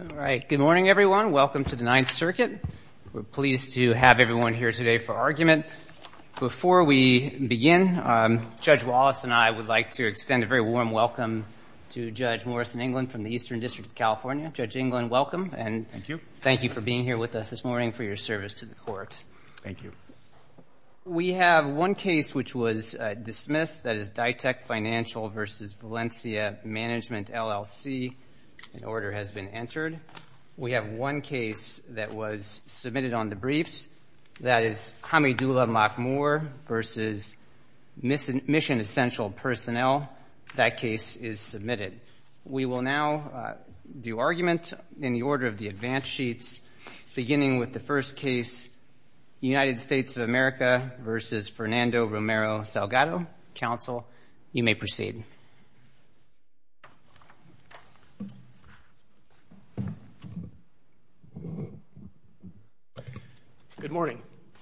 All right, good morning everyone. Welcome to the Ninth Circuit. We're pleased to have everyone here today for argument. Before we begin, Judge Wallace and I would like to extend a very warm welcome to Judge Morrison England from the Eastern District of California. Judge England, welcome and thank you for being here with us this morning for your service to the court. Thank you. We have one case which was dismissed, that is Dytek Financial v. Valencia Management, LLC. An order has been entered. We have one case that was submitted on the briefs, that is Hamidullah Makhmur v. Mission Essential Personnel. That case is submitted. We will now do argument in the order of the advance sheets, beginning with the first case, United States of America v. Fernando Romero-Salgado. Counsel, you may proceed. Good morning.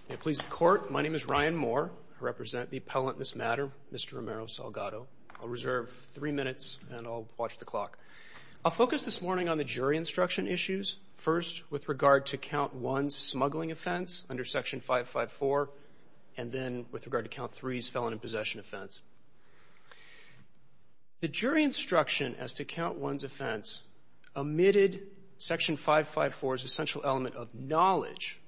May it please the Court, my name is Ryan Moore. I represent the appellant in this matter, Mr. Romero-Salgado. I'll reserve three minutes and I'll watch the clock. I'll focus this morning on the jury instruction issues, first with regard to Count 1's smuggling offense under Section 554, and then with regard to Count 3's felon in possession offense. The jury instruction as to Count 1's offense omitted Section 554's essential element of knowledge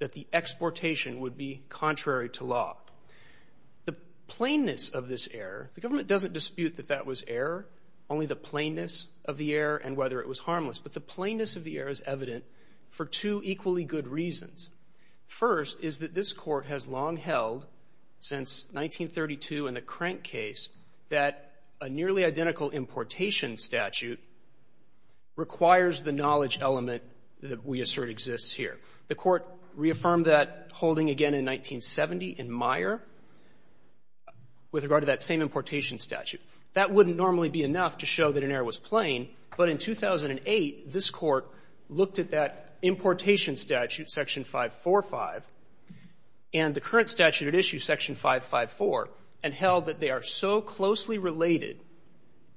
that the exportation would be contrary to law. The plainness of this error, the government doesn't dispute that that was error, only the plainness of the error and whether it was harmless, but the plainness of the error is evident for two equally good reasons. First is that this Court has long held, since 1932 in the Crank case, that a nearly identical importation statute requires the knowledge element that we assert exists here. The Court reaffirmed that holding again in 1970 in Meyer with regard to that same importation statute. That wouldn't normally be enough to show that an error was plain, but in 2008, this Court looked at that importation statute, Section 545, and the current statute at issue, Section 554, and held that they are so closely related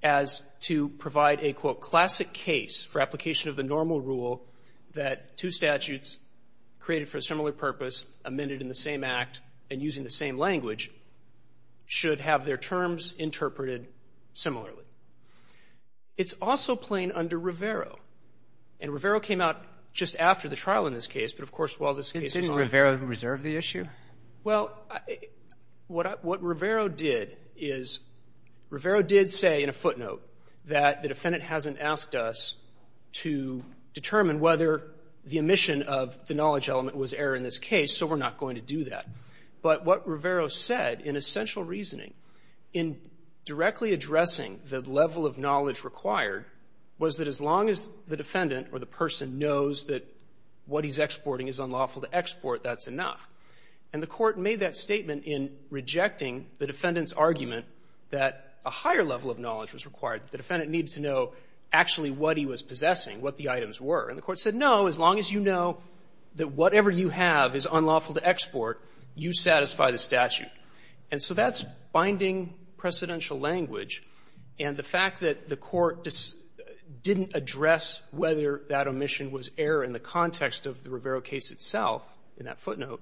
as to provide a, quote, classic case for application of the normal rule that two statutes created for a similar purpose, amended in the same act, and using the same language should have their terms interpreted similarly. It's also plain under Rivero. And Rivero came out just after the trial in this case, but, of course, while this case is ongoing. Didn't Rivero reserve the issue? Well, what Rivero did is Rivero did say in a footnote that the defendant hasn't asked us to determine whether the omission of the knowledge element was error in this case, so we're not going to do that. But what Rivero said, in essential reasoning, in directly addressing the level of knowledge required, was that as long as the defendant or the person knows that what he's exporting is unlawful to export, that's enough. And the Court made that statement in rejecting the defendant's argument that a higher level of knowledge was required. The defendant needed to know actually what he was possessing, what the items were. And the Court said, no, as long as you know that whatever you have is unlawful to export, you satisfy the statute. And so that's binding precedential language. And the fact that the Court didn't address whether that omission was error in the context of the Rivero case itself, in that footnote,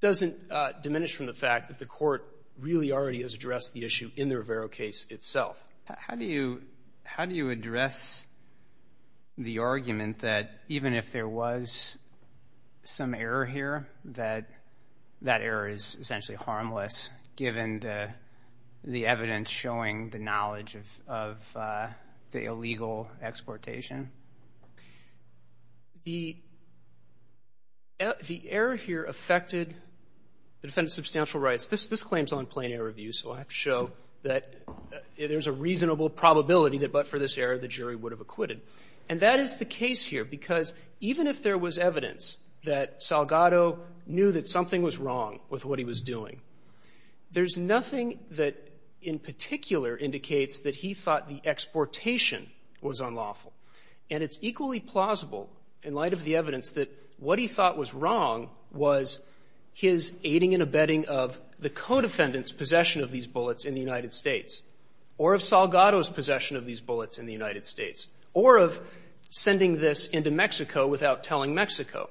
doesn't diminish from the fact that the Court really already has addressed the issue in the Rivero case itself. How do you address the argument that even if there was some error here, that that error is essentially harmless, given the evidence showing the knowledge of the illegal exportation? The error here affected the defendant's substantial rights. This claim is on plain-air review, so I have to show that there's a reasonable probability that but for this error, the jury would have acquitted. And that is the case here, because even if there was evidence that Salgado knew that something was wrong with what he was doing, there's nothing that in particular indicates that he thought the exportation was unlawful. And it's equally plausible, in light of the evidence, that what he thought was wrong was his aiding and abetting of the co-defendant's possession of these bullets in the United States, or of Salgado's possession of these bullets in the United States, or of sending this into Mexico without telling Mexico.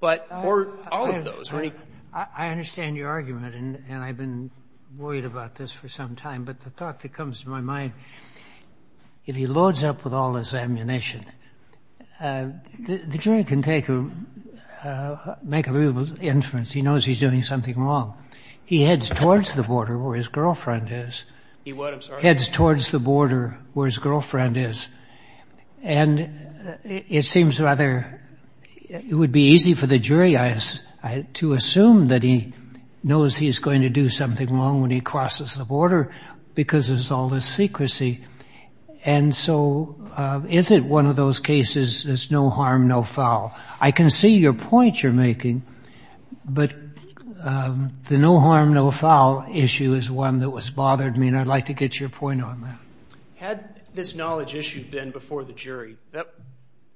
Or any of them. And your argument, and I've been worried about this for some time, but the thought that comes to my mind, if he loads up with all this ammunition, the jury can take a make a reasonable inference. He knows he's doing something wrong. He heads towards the border where his girlfriend is. He heads towards the border where his girlfriend is. And it seems rather it would be easy for the jury to assume that he knows he's going to do something wrong when he crosses the border, because there's all this secrecy. And so is it one of those cases that's no harm, no foul? I can see your point you're making, but the no harm, no foul issue is one that was bothering me, and I'd like to get your point on that. Had this knowledge issue been before the jury,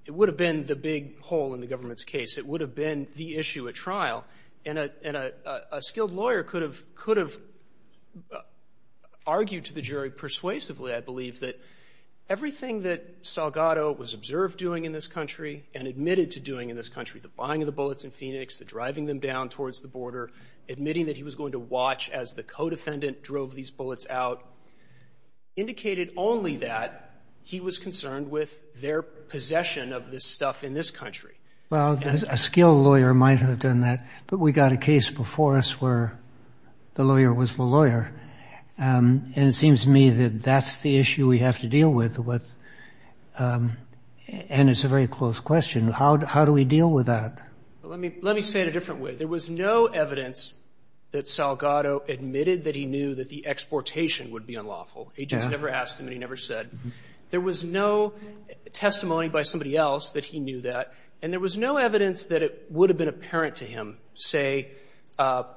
it would have been the big hole in the government's case. It would have been the issue at trial, and a skilled lawyer could have argued to the jury persuasively, I believe, that everything that Salgado was observed doing in this country and admitted to doing in this country, the buying of the bullets in Phoenix, the driving them down towards the border, admitting that he was going to watch as the codefendant drove these bullets out, indicated only that he was concerned with their possession of this stuff in this country. Well, a skilled lawyer might have done that, but we got a case before us where the lawyer was the lawyer, and it seems to me that that's the issue we have to deal with, and it's a very close question. How do we deal with that? Let me say it a different way. There was no evidence that Salgado admitted that he knew that the exportation would be unlawful. Agents never asked him and he never said. There was no testimony by somebody else that he knew that, and there was no evidence that it would have been apparent to him, say,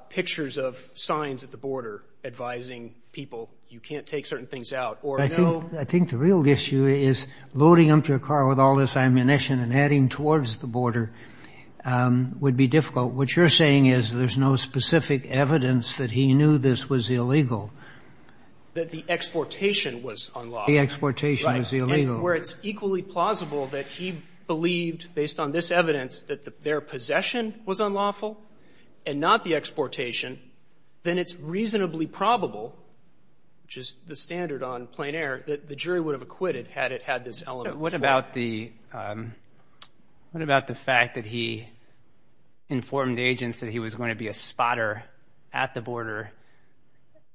pictures of signs at the border advising people, you can't take certain things out, or no ---- I think the real issue is loading up your car with all this ammunition and heading towards the border would be difficult. What you're saying is there's no specific evidence that he knew this was illegal. That the exportation was unlawful. The exportation was illegal. Right. And where it's equally plausible that he believed, based on this evidence, that their possession was unlawful and not the exportation, then it's reasonably probable, which is the standard on plain air, that the jury would have acquitted had it had this element before. But what about the fact that he informed agents that he was going to be a spotter at the border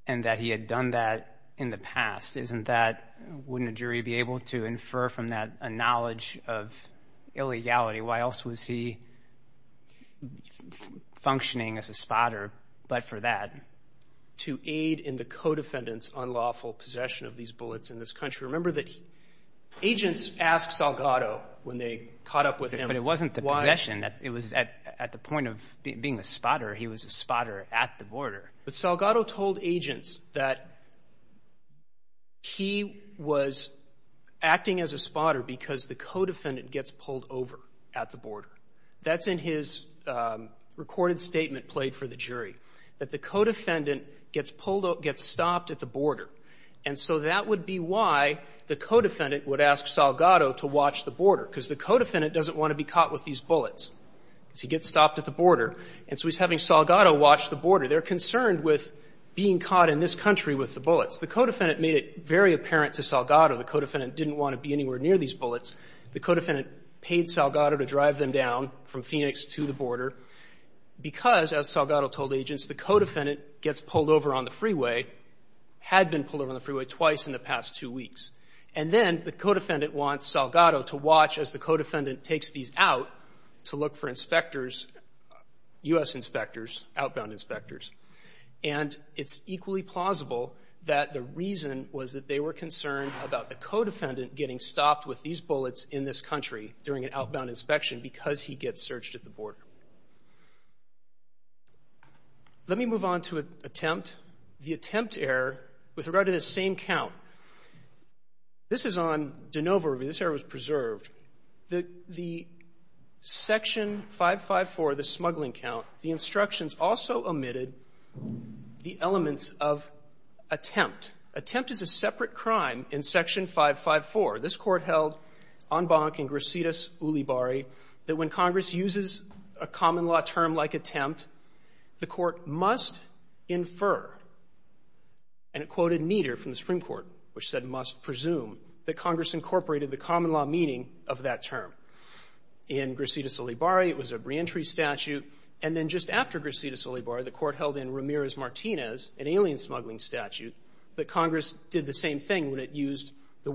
and that he had done that in the past? Wouldn't a jury be able to infer from that a knowledge of illegality? Why else was he functioning as a spotter but for that? To aid in the co-defendant's unlawful possession of these bullets in this country. Remember that agents asked Salgado when they caught up with him. But it wasn't the possession. It was at the point of being a spotter. He was a spotter at the border. But Salgado told agents that he was acting as a spotter because the co-defendant gets pulled over at the border. That's in his recorded statement played for the jury, that the co-defendant gets pulled over, gets stopped at the border. And so that would be why the co-defendant would ask Salgado to watch the border, because the co-defendant doesn't want to be caught with these bullets. So he gets stopped at the border. And so he's having Salgado watch the border. They're concerned with being caught in this country with the bullets. The co-defendant made it very apparent to Salgado. The co-defendant didn't want to be anywhere near these bullets. The co-defendant paid Salgado to drive them down from Phoenix to the border because, as Salgado told agents, the co-defendant gets pulled over on the freeway, had been pulled over on the freeway twice in the past two weeks. And then the co-defendant wants Salgado to watch as the co-defendant takes these out to look for inspectors, U.S. inspectors, outbound inspectors. And it's equally plausible that the reason was that they were concerned about the co-defendant getting stopped with these bullets in this country during an outbound inspection because he gets searched at the border. Let me move on to an attempt. The attempt error with regard to this same count. This is on de novo review. This error was preserved. The Section 554, the smuggling count, the instructions also omitted the elements of attempt. Attempt is a separate crime in Section 554. This Court held en banc in Gracidas Ulibarri that when Congress uses a common-law term like attempt, the Court must infer, and it quoted Nieder from the Supreme Court, which said must presume, that Congress incorporated the common-law meaning of that term. In Gracidas Ulibarri, it was a reentry statute. And then just after Gracidas Ulibarri, the Court held in Ramirez-Martinez, an alien smuggling statute, that Congress did the same thing when it used the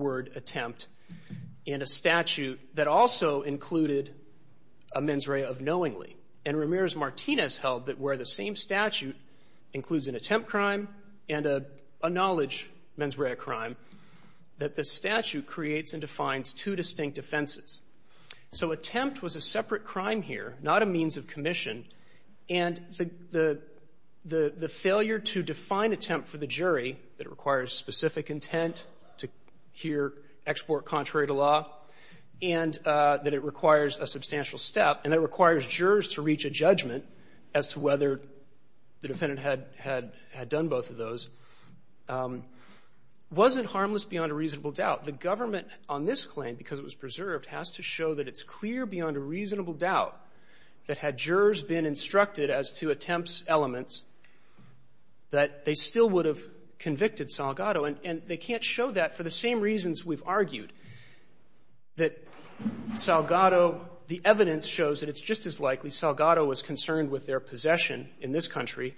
Ramirez-Martinez held that where the same statute includes an attempt crime and a knowledge mens rea crime, that the statute creates and defines two distinct offenses. So attempt was a separate crime here, not a means of commission, and the failure to define attempt for the jury, that it requires specific intent to hear export contrary to law, and that it requires a substantial step, and that it requires jurors to reach a judgment as to whether the defendant had done both of those, wasn't harmless beyond a reasonable doubt. The government on this claim, because it was preserved, has to show that it's clear beyond a reasonable doubt that had jurors been instructed as to attempt's elements that they still would have convicted Salgado, and they can't show that for the same reasons we've argued, that Salgado, the evidence shows that it's just as likely Salgado was concerned with their possession in this country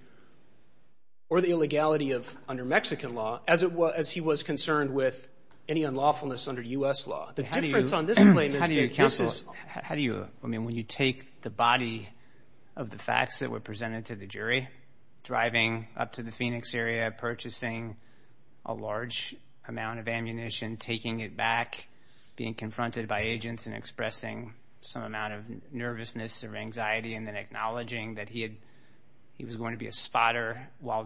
or the illegality of under Mexican law as he was concerned with any unlawfulness under U.S. law. The difference on this claim is that this is — How do you counsel? I mean, when you take the body of the facts that were presented to the jury, driving up to the Phoenix area, purchasing a large amount of ammunition, taking it back, being confronted by agents, and expressing some amount of nervousness or anxiety, and then acknowledging that he was going to be a spotter while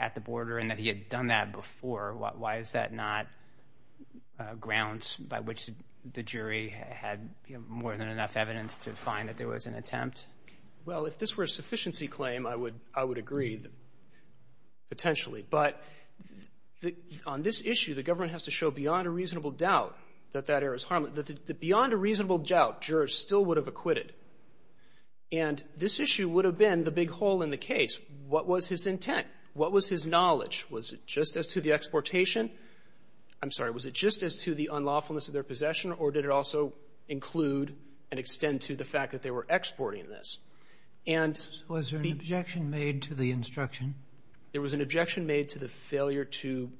at the border and that he had done that before, why is that not grounds by which the jury had more than enough evidence to find that there was an attempt? Well, if this were a sufficiency claim, I would agree, potentially. But on this issue, the government has to show beyond a reasonable doubt that that error is harmless. Beyond a reasonable doubt, jurors still would have acquitted. And this issue would have been the big hole in the case. What was his intent? What was his knowledge? Was it just as to the exportation? I'm sorry. Was it just as to the unlawfulness of their possession, or did it also include and extend to the fact that they were exporting this? And the ---- Was there an objection made to the instruction? There was an objection made to the failure to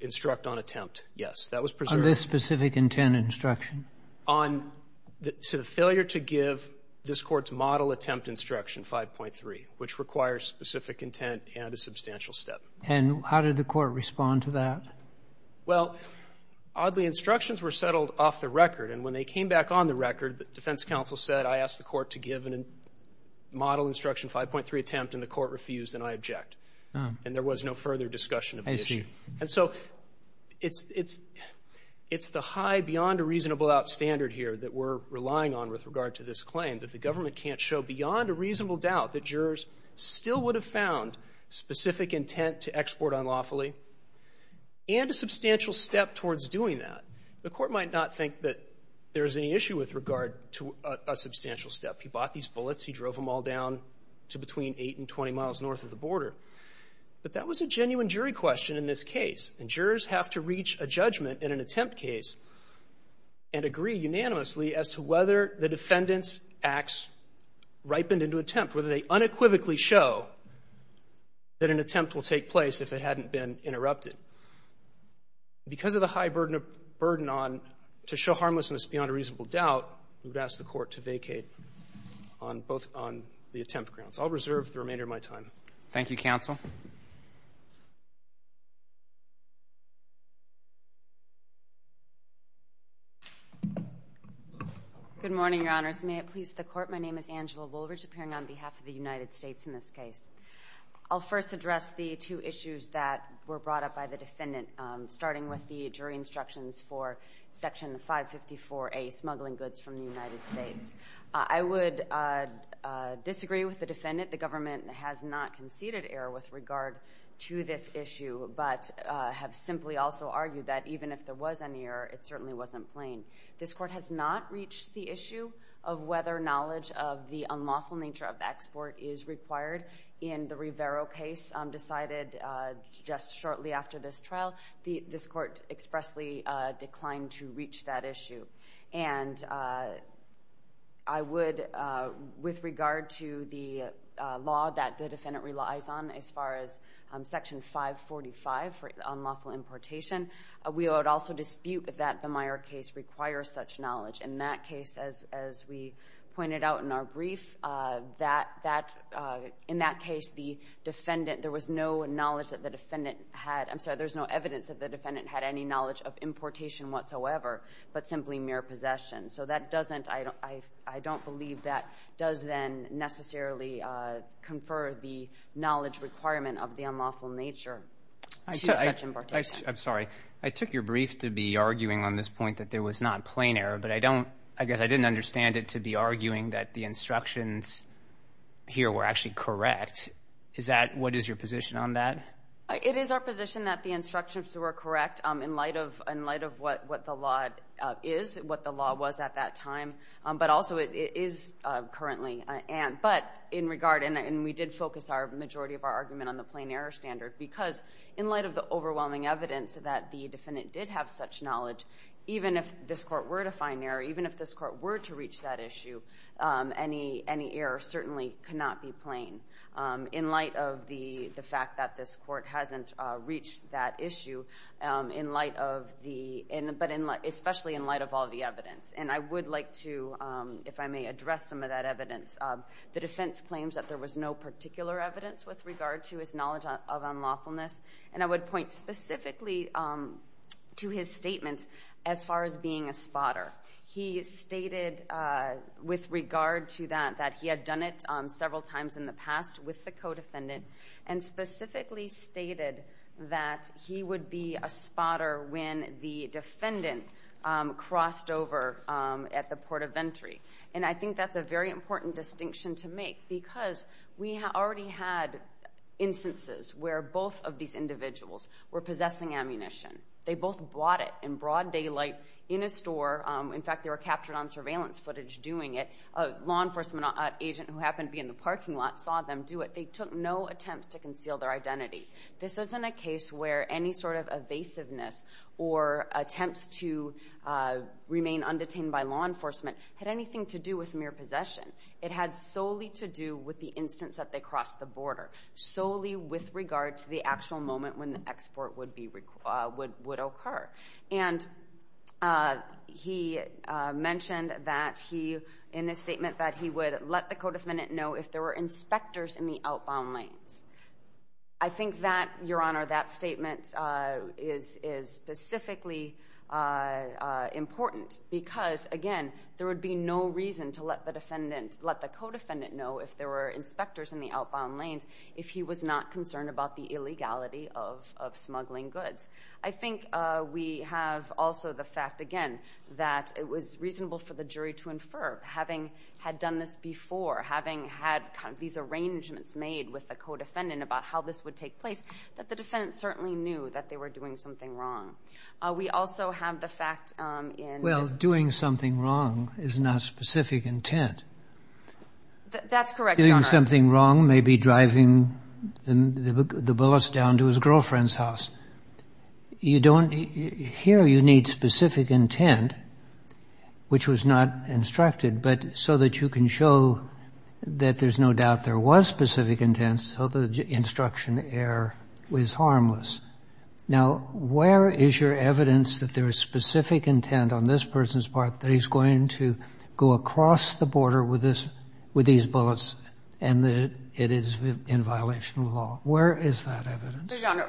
instruct on attempt, yes. That was preserved. On this specific intent instruction? On the failure to give this Court's model attempt instruction 5.3, which requires specific intent and a substantial step. And how did the Court respond to that? Well, oddly, instructions were settled off the record. And when they came back on the record, the defense counsel said, I asked the Court to give a model instruction 5.3 attempt, and the Court refused, and I object. And there was no further discussion of the issue. I see. And so it's the high beyond a reasonable doubt standard here that we're relying on with regard to this claim, that the government can't show beyond a reasonable doubt that jurors still would have found specific intent to export unlawfully and a substantial step towards doing that. The Court might not think that there's any issue with regard to a substantial step. He bought these bullets. He drove them all down to between 8 and 20 miles north of the border. But that was a genuine jury question in this case, and jurors have to reach a judgment in an attempt case and agree unanimously as to whether the defendant's acts ripened into attempt, whether they unequivocally show that an attempt will take place if it hadn't been interrupted. Because of the high burden on to show harmlessness beyond a reasonable doubt, we would ask the Court to vacate on both on the attempt grounds. I'll reserve the remainder of my time. Roberts. Thank you, counsel. Good morning, Your Honors. May it please the Court, my name is Angela Woolridge, appearing on behalf of the United States in this case. I'll first address the two issues that were brought up by the defendant, starting with the jury instructions for Section 554A, smuggling goods from the United States. I would disagree with the defendant. The government has not conceded error with regard to this issue, but have simply also argued that even if there was any error, it certainly wasn't plain. This Court has not reached the issue of whether knowledge of the unlawful nature of the export is required. In the Rivero case decided just shortly after this trial, this Court expressly declined to reach that issue. And I would, with regard to the law that the defendant relies on as far as Section 545 for unlawful importation, we would also dispute that the Meyer case requires such knowledge. In that case, as we pointed out in our brief, that, in that case, the defendant, there was no knowledge that the defendant had, I'm sorry, there's no evidence that the defendant had any knowledge of importation whatsoever, but simply mere possession. So that doesn't, I don't believe that does then necessarily confer the knowledge requirement of the unlawful nature to such importation. I'm sorry. I took your brief to be arguing on this point that there was not plain error, but I don't, I guess I didn't understand it to be arguing that the instructions here were actually correct. Is that, what is your position on that? It is our position that the instructions were correct in light of what the law is, what the law was at that time, but also it is currently. But in regard, and we did focus our majority of our argument on the plain error standard because in light of the overwhelming evidence that the defendant did have such knowledge, even if this court were to find error, even if this court were to reach that issue, any error certainly cannot be plain in light of the fact that this court hasn't reached that issue in light of the, but especially in light of all the evidence. And I would like to, if I may, address some of that evidence. The defense claims that there was no particular evidence with regard to his knowledge of unlawfulness, and I would point specifically to his statements as far as being a spotter. He stated with regard to that that he had done it several times in the past with the co-defendant and specifically stated that he would be a spotter when the defendant crossed over at the port of entry. And I think that's a very important distinction to make because we already had instances where both of these individuals were possessing ammunition. They both bought it in broad daylight in a store. In fact, they were captured on surveillance footage doing it. A law enforcement agent who happened to be in the parking lot saw them do it. They took no attempts to conceal their identity. This isn't a case where any sort of evasiveness or attempts to remain undetained by law enforcement had anything to do with mere possession. It had solely to do with the instance that they crossed the border, solely with regard to the actual moment when the export would occur. And he mentioned that he, in his statement, that he would let the co-defendant know if there were inspectors in the outbound lanes. I think that, Your Honor, that statement is specifically important because, again, there would be no reason to let the defendant, let the co-defendant know if there were inspectors in the outbound lanes if he was not concerned about the illegality of smuggling goods. I think we have also the fact, again, that it was reasonable for the jury to infer, having had done this before, having had these arrangements made with the co-defendant about how this would take place, that the defendant certainly knew that they were doing something wrong. We also have the fact in this. Well, doing something wrong is not specific intent. That's correct, Your Honor. Doing something wrong may be driving the bullets down to his girlfriend's house. You don't, here you need specific intent, which was not instructed, but so that you can show that there's no doubt there was specific intent, so the instruction error was harmless. Now, where is your evidence that there is specific intent on this person's part that he's going to go across the border with this, with these bullets, and that it is in violation of the law? Where is that evidence? Your Honor,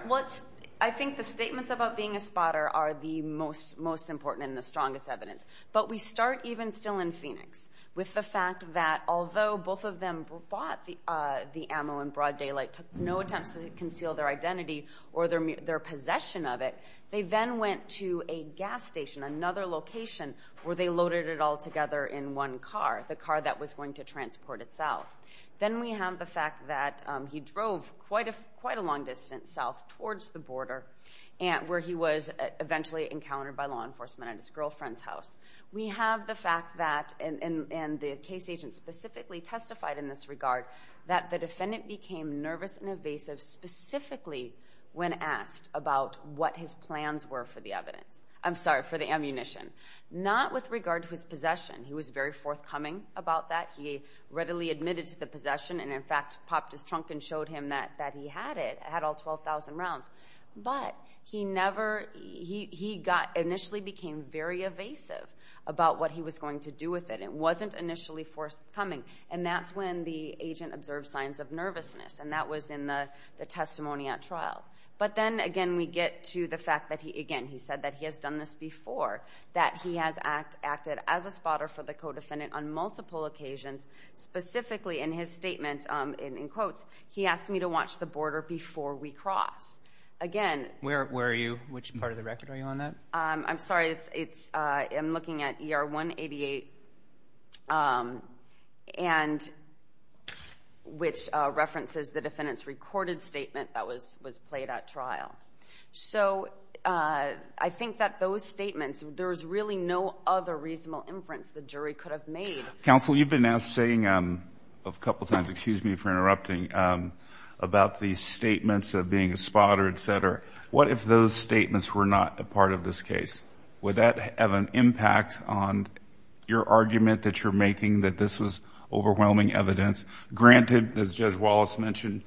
I think the statements about being a spotter are the most important and the strongest evidence, but we start even still in Phoenix with the fact that although both of them bought the ammo in broad daylight, took no attempts to conceal their identity or their possession of it, they then went to a gas station, another location, where they loaded it all together in one car, the car that was going to transport itself. Then we have the fact that he drove quite a long distance south towards the border where he was eventually encountered by law enforcement at his girlfriend's house. We have the fact that, and the case agent specifically testified in this regard, that the defendant became nervous and evasive specifically when asked about what his plans were for the ammunition, not with regard to his possession. He was very forthcoming about that. He readily admitted to the possession and, in fact, popped his trunk and showed him that he had it, had all 12,000 rounds. But he never, he initially became very evasive about what he was going to do with it. It wasn't initially forthcoming, and that's when the agent observed signs of nervousness, and that was in the testimony at trial. But then, again, we get to the fact that he, again, he said that he has done this in his statement, in quotes, he asked me to watch the border before we cross. Again. Where are you? Which part of the record are you on that? I'm sorry. I'm looking at ER 188, which references the defendant's recorded statement that was played at trial. So I think that those statements, there's really no other reasonable inference the jury could have made. Counsel, you've been now saying a couple times, excuse me for interrupting, about the statements of being a spotter, et cetera. What if those statements were not a part of this case? Would that have an impact on your argument that you're making that this was overwhelming evidence? Granted, as Judge Wallace mentioned,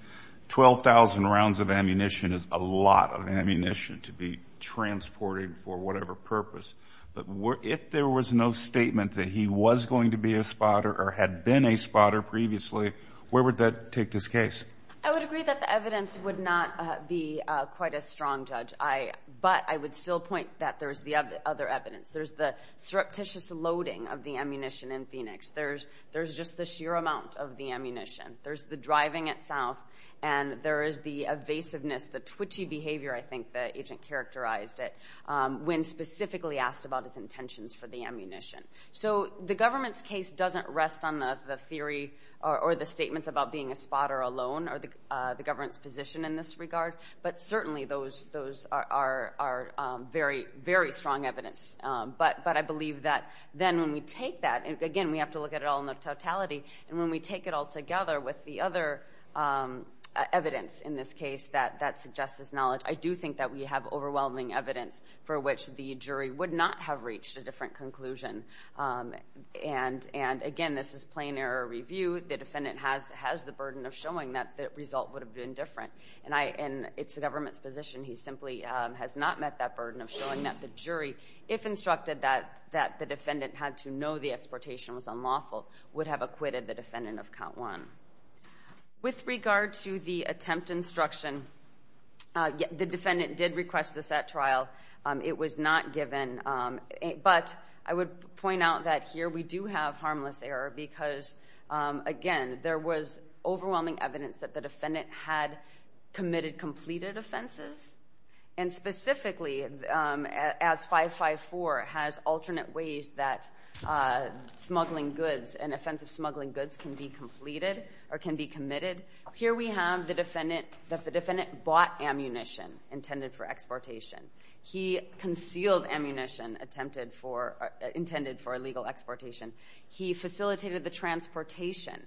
12,000 rounds of ammunition is a lot of ammunition to be transported for whatever purpose. But if there was no statement that he was going to be a spotter or had been a spotter previously, where would that take this case? I would agree that the evidence would not be quite as strong, Judge. But I would still point that there's the other evidence. There's the surreptitious loading of the ammunition in Phoenix. There's just the sheer amount of the ammunition. There's the driving itself, and there is the evasiveness, the twitchy behavior, I think the agent characterized it, when specifically asked about his intentions for the ammunition. So the government's case doesn't rest on the theory or the statements about being a spotter alone or the government's position in this regard. But certainly those are very, very strong evidence. But I believe that then when we take that, again, we have to look at it all in the totality, and when we take it all together with the other evidence in this case that suggests this knowledge, I do think that we have overwhelming evidence for which the jury would not have reached a different conclusion. And again, this is plain error review. The defendant has the burden of showing that the result would have been different. And it's the government's position. He simply has not met that burden of showing that the jury, if instructed that the defendant had to know the exportation was unlawful, would have acquitted the defendant of count one. With regard to the attempt instruction, the defendant did request the set trial. It was not given. But I would point out that here we do have harmless error because, again, there was overwhelming evidence that the defendant had committed completed offenses, and specifically as 554 has alternate ways that smuggling goods and offensive smuggling goods can be completed or can be committed. Here we have that the defendant bought ammunition intended for exportation. He concealed ammunition intended for illegal exportation. He facilitated the transportation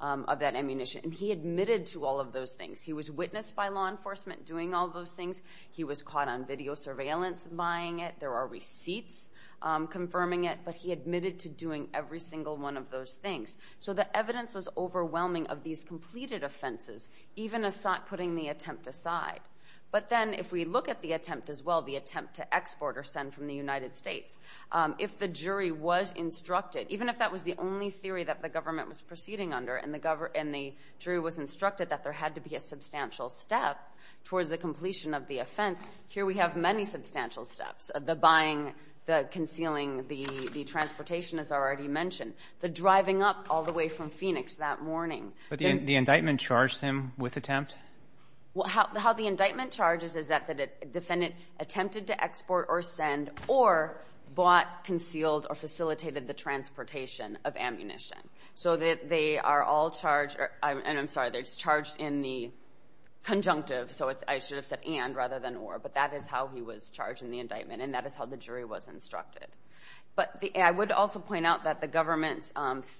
of that ammunition. And he admitted to all of those things. He was witnessed by law enforcement doing all those things. He was caught on video surveillance buying it. There are receipts confirming it. But he admitted to doing every single one of those things. So the evidence was overwhelming of these completed offenses, even putting the attempt aside. But then if we look at the attempt as well, the attempt to export or send from the United States, if the jury was instructed, even if that was the only theory that the government was proceeding under and the jury was instructed that there had to be a substantial step towards the completion of the offense, here we have many substantial steps, the buying, the concealing, the transportation, as I already mentioned, the driving up all the way from Phoenix that morning. But the indictment charged him with attempt? How the indictment charges is that the defendant attempted to export or send or bought, concealed, or facilitated the transportation of ammunition. So they are all charged in the conjunctive, so I should have said and rather than or, but that is how he was charged in the indictment, and that is how the jury was instructed. But I would also point out that the government's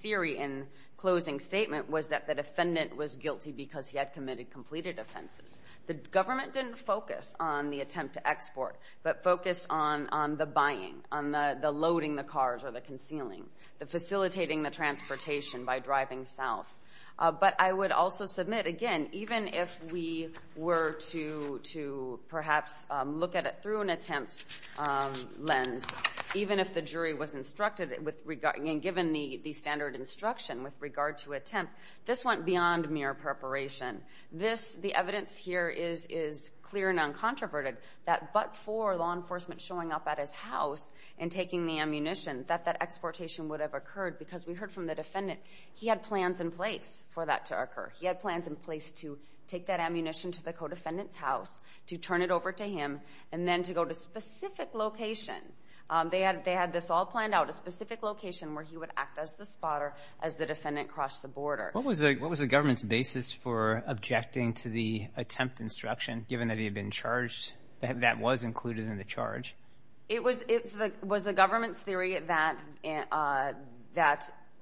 theory in closing statement was that the defendant was guilty because he had committed completed offenses. The government didn't focus on the attempt to export, but focused on the buying, on the loading the cars or the concealing, the facilitating the transportation by driving south. But I would also submit, again, even if we were to perhaps look at it through an attempt lens, even if the jury was instructed and given the standard instruction with regard to attempt, this went beyond mere preparation. The evidence here is clear and uncontroverted that but for law enforcement showing up at his house and taking the ammunition, that that exportation would have occurred because we heard from the defendant he had plans in place for that to occur. He had plans in place to take that ammunition to the co-defendant's house, to turn it over to him, and then to go to a specific location. They had this all planned out, a specific location where he would act as the spotter as the defendant crossed the border. What was the government's basis for objecting to the attempt instruction, given that he had been charged, that that was included in the charge? It was the government's theory that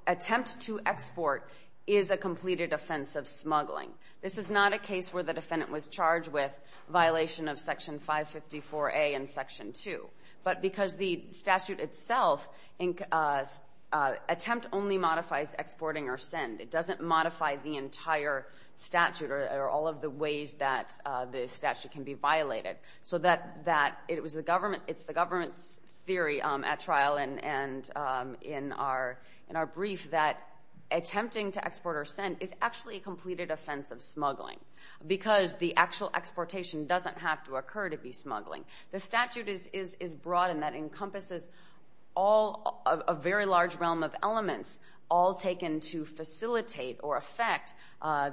attempt to export is a completed offense of smuggling. This is not a case where the defendant was charged with violation of Section 554A and Section 2. But because the statute itself, attempt only modifies exporting or send. It doesn't modify the entire statute or all of the ways that the statute can be violated. It's the government's theory at trial and in our brief that attempting to export or send is actually a completed offense of smuggling because the actual exportation doesn't have to occur to be smuggling. The statute is broad and that encompasses a very large realm of elements all taken to facilitate or affect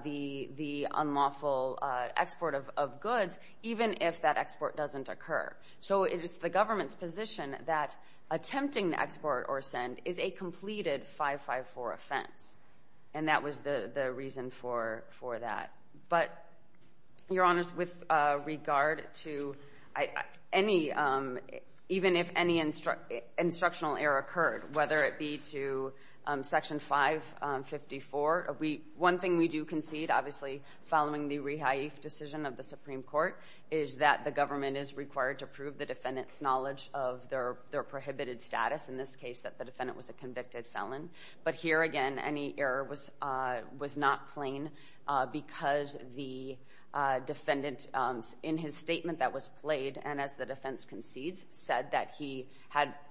the unlawful export of goods, even if that export doesn't occur. So it is the government's position that attempting to export or send is a completed 554 offense, and that was the reason for that. But, Your Honors, with regard to any, even if any instructional error occurred, whether it be to Section 554, one thing we do concede, obviously, following the rehaif decision of the Supreme Court, is that the government is required to prove the defendant's knowledge of their prohibited status, in this case that the defendant was a convicted felon. But here, again, any error was not plain because the defendant, in his statement that was played and as the defense concedes, said that he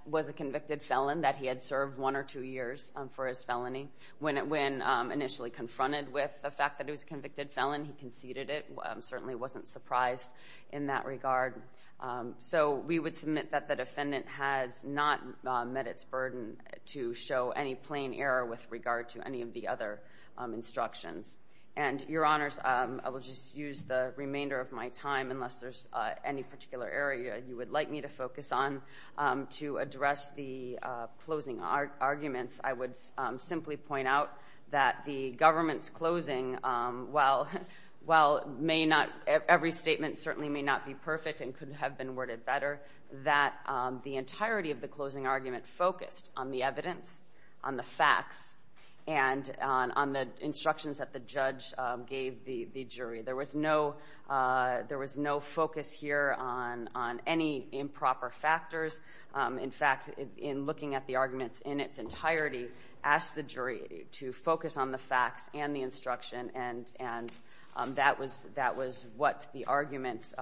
was a convicted felon, that he had served one or two years for his felony. When initially confronted with the fact that he was a convicted felon, he conceded it, certainly wasn't surprised in that regard. So we would submit that the defendant has not met its burden to show any plain error with regard to any of the other instructions. And, Your Honors, I will just use the remainder of my time, unless there's any particular area you would like me to focus on, to address the closing arguments. I would simply point out that the government's closing, while every statement certainly may not be perfect and could have been worded better, that the entirety of the closing argument focused on the evidence, on the facts, and on the instructions that the judge gave the jury. There was no focus here on any improper factors. In fact, in looking at the arguments in its entirety, asked the jury to focus on the facts and the instruction, and that was what the arguments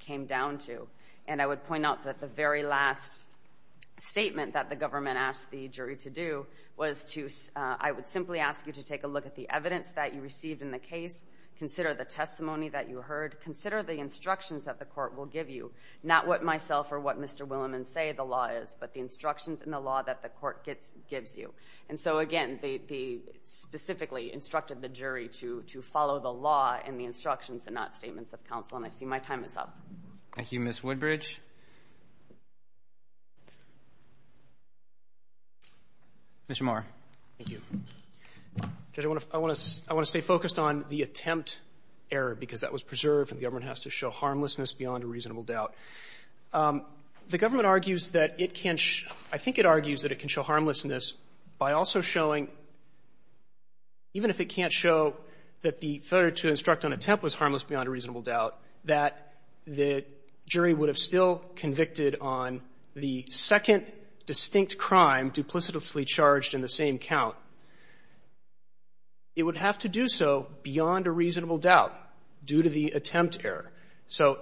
came down to. And I would point out that the very last statement that the government asked the jury to do was to, I would simply ask you to take a look at the evidence that you received in the case, consider the testimony that you heard, consider the instructions that the court will give you, not what myself or what Mr. Williman say the law is, but the instructions in the law that the court gives you. And so, again, they specifically instructed the jury to follow the law and the instructions and not statements of counsel, and I see my time is up. Roberts. Thank you, Ms. Woodbridge. Mr. Mohr. Thank you. Judge, I want to stay focused on the attempt error, because that was preserved and the government has to show harmlessness beyond a reasonable doubt. The government argues that it can show – I think it argues that it can show harmlessness by also showing, even if it can't show that the failure to instruct on attempt was harmless beyond a reasonable doubt, that the jury would have still convicted on the second distinct crime duplicitously charged in the same count. It would have to do so beyond a reasonable doubt due to the attempt error. So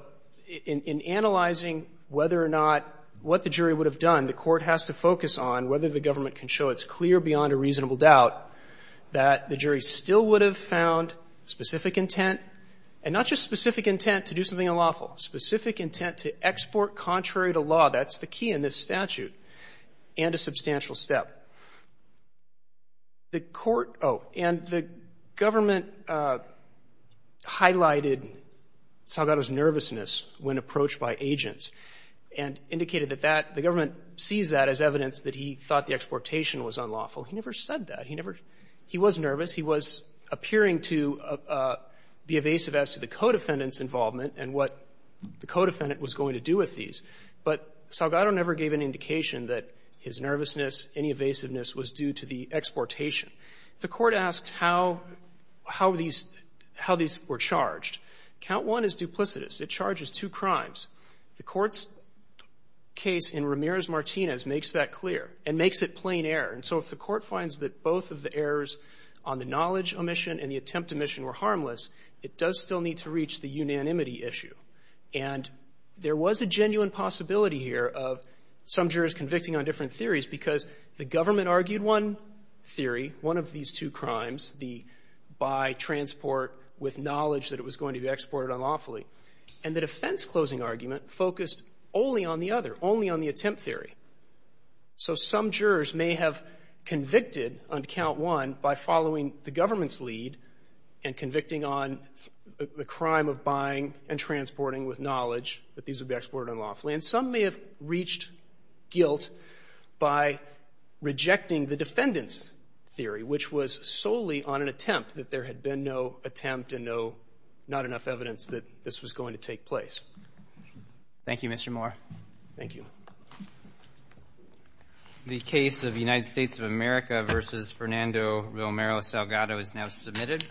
in analyzing whether or not – what the jury would have done, the court has to focus on whether the government can show it's clear beyond a reasonable doubt that the jury still would have found specific intent, and not just specific intent to do something unlawful, specific intent to export contrary to law. That's the key in this statute and a substantial step. The court – oh, and the government highlighted Salgado's nervousness when approached by agents and indicated that that – the government sees that as evidence that he thought the exportation was unlawful. He never said that. He never – he was nervous. He was appearing to be evasive as to the co-defendant's involvement and what the co-defendant was going to do with these. But Salgado never gave an indication that his nervousness, any evasiveness, was due to the exportation. The court asked how – how these – how these were charged. Count one is duplicitous. It charges two crimes. The court's case in Ramirez-Martinez makes that clear and makes it plain error. And so if the court finds that both of the errors on the knowledge omission and the attempt omission were harmless, it does still need to reach the unanimity issue. And there was a genuine possibility here of some jurors convicting on different theories because the government argued one theory, one of these two crimes, the by transport with knowledge that it was going to be exported unlawfully. And the defense-closing argument focused only on the other, only on the attempt theory. So some jurors may have convicted on count one by following the government's lead and convicting on the crime of buying and transporting with knowledge that these would be exported unlawfully. And some may have reached guilt by rejecting the defendant's theory, which was solely on an attempt, that there had been no attempt and no – not enough evidence that this was going to take place. Thank you, Mr. Moore. Thank you. The case of United States of America v. Fernando Romero Salgado is now submitted.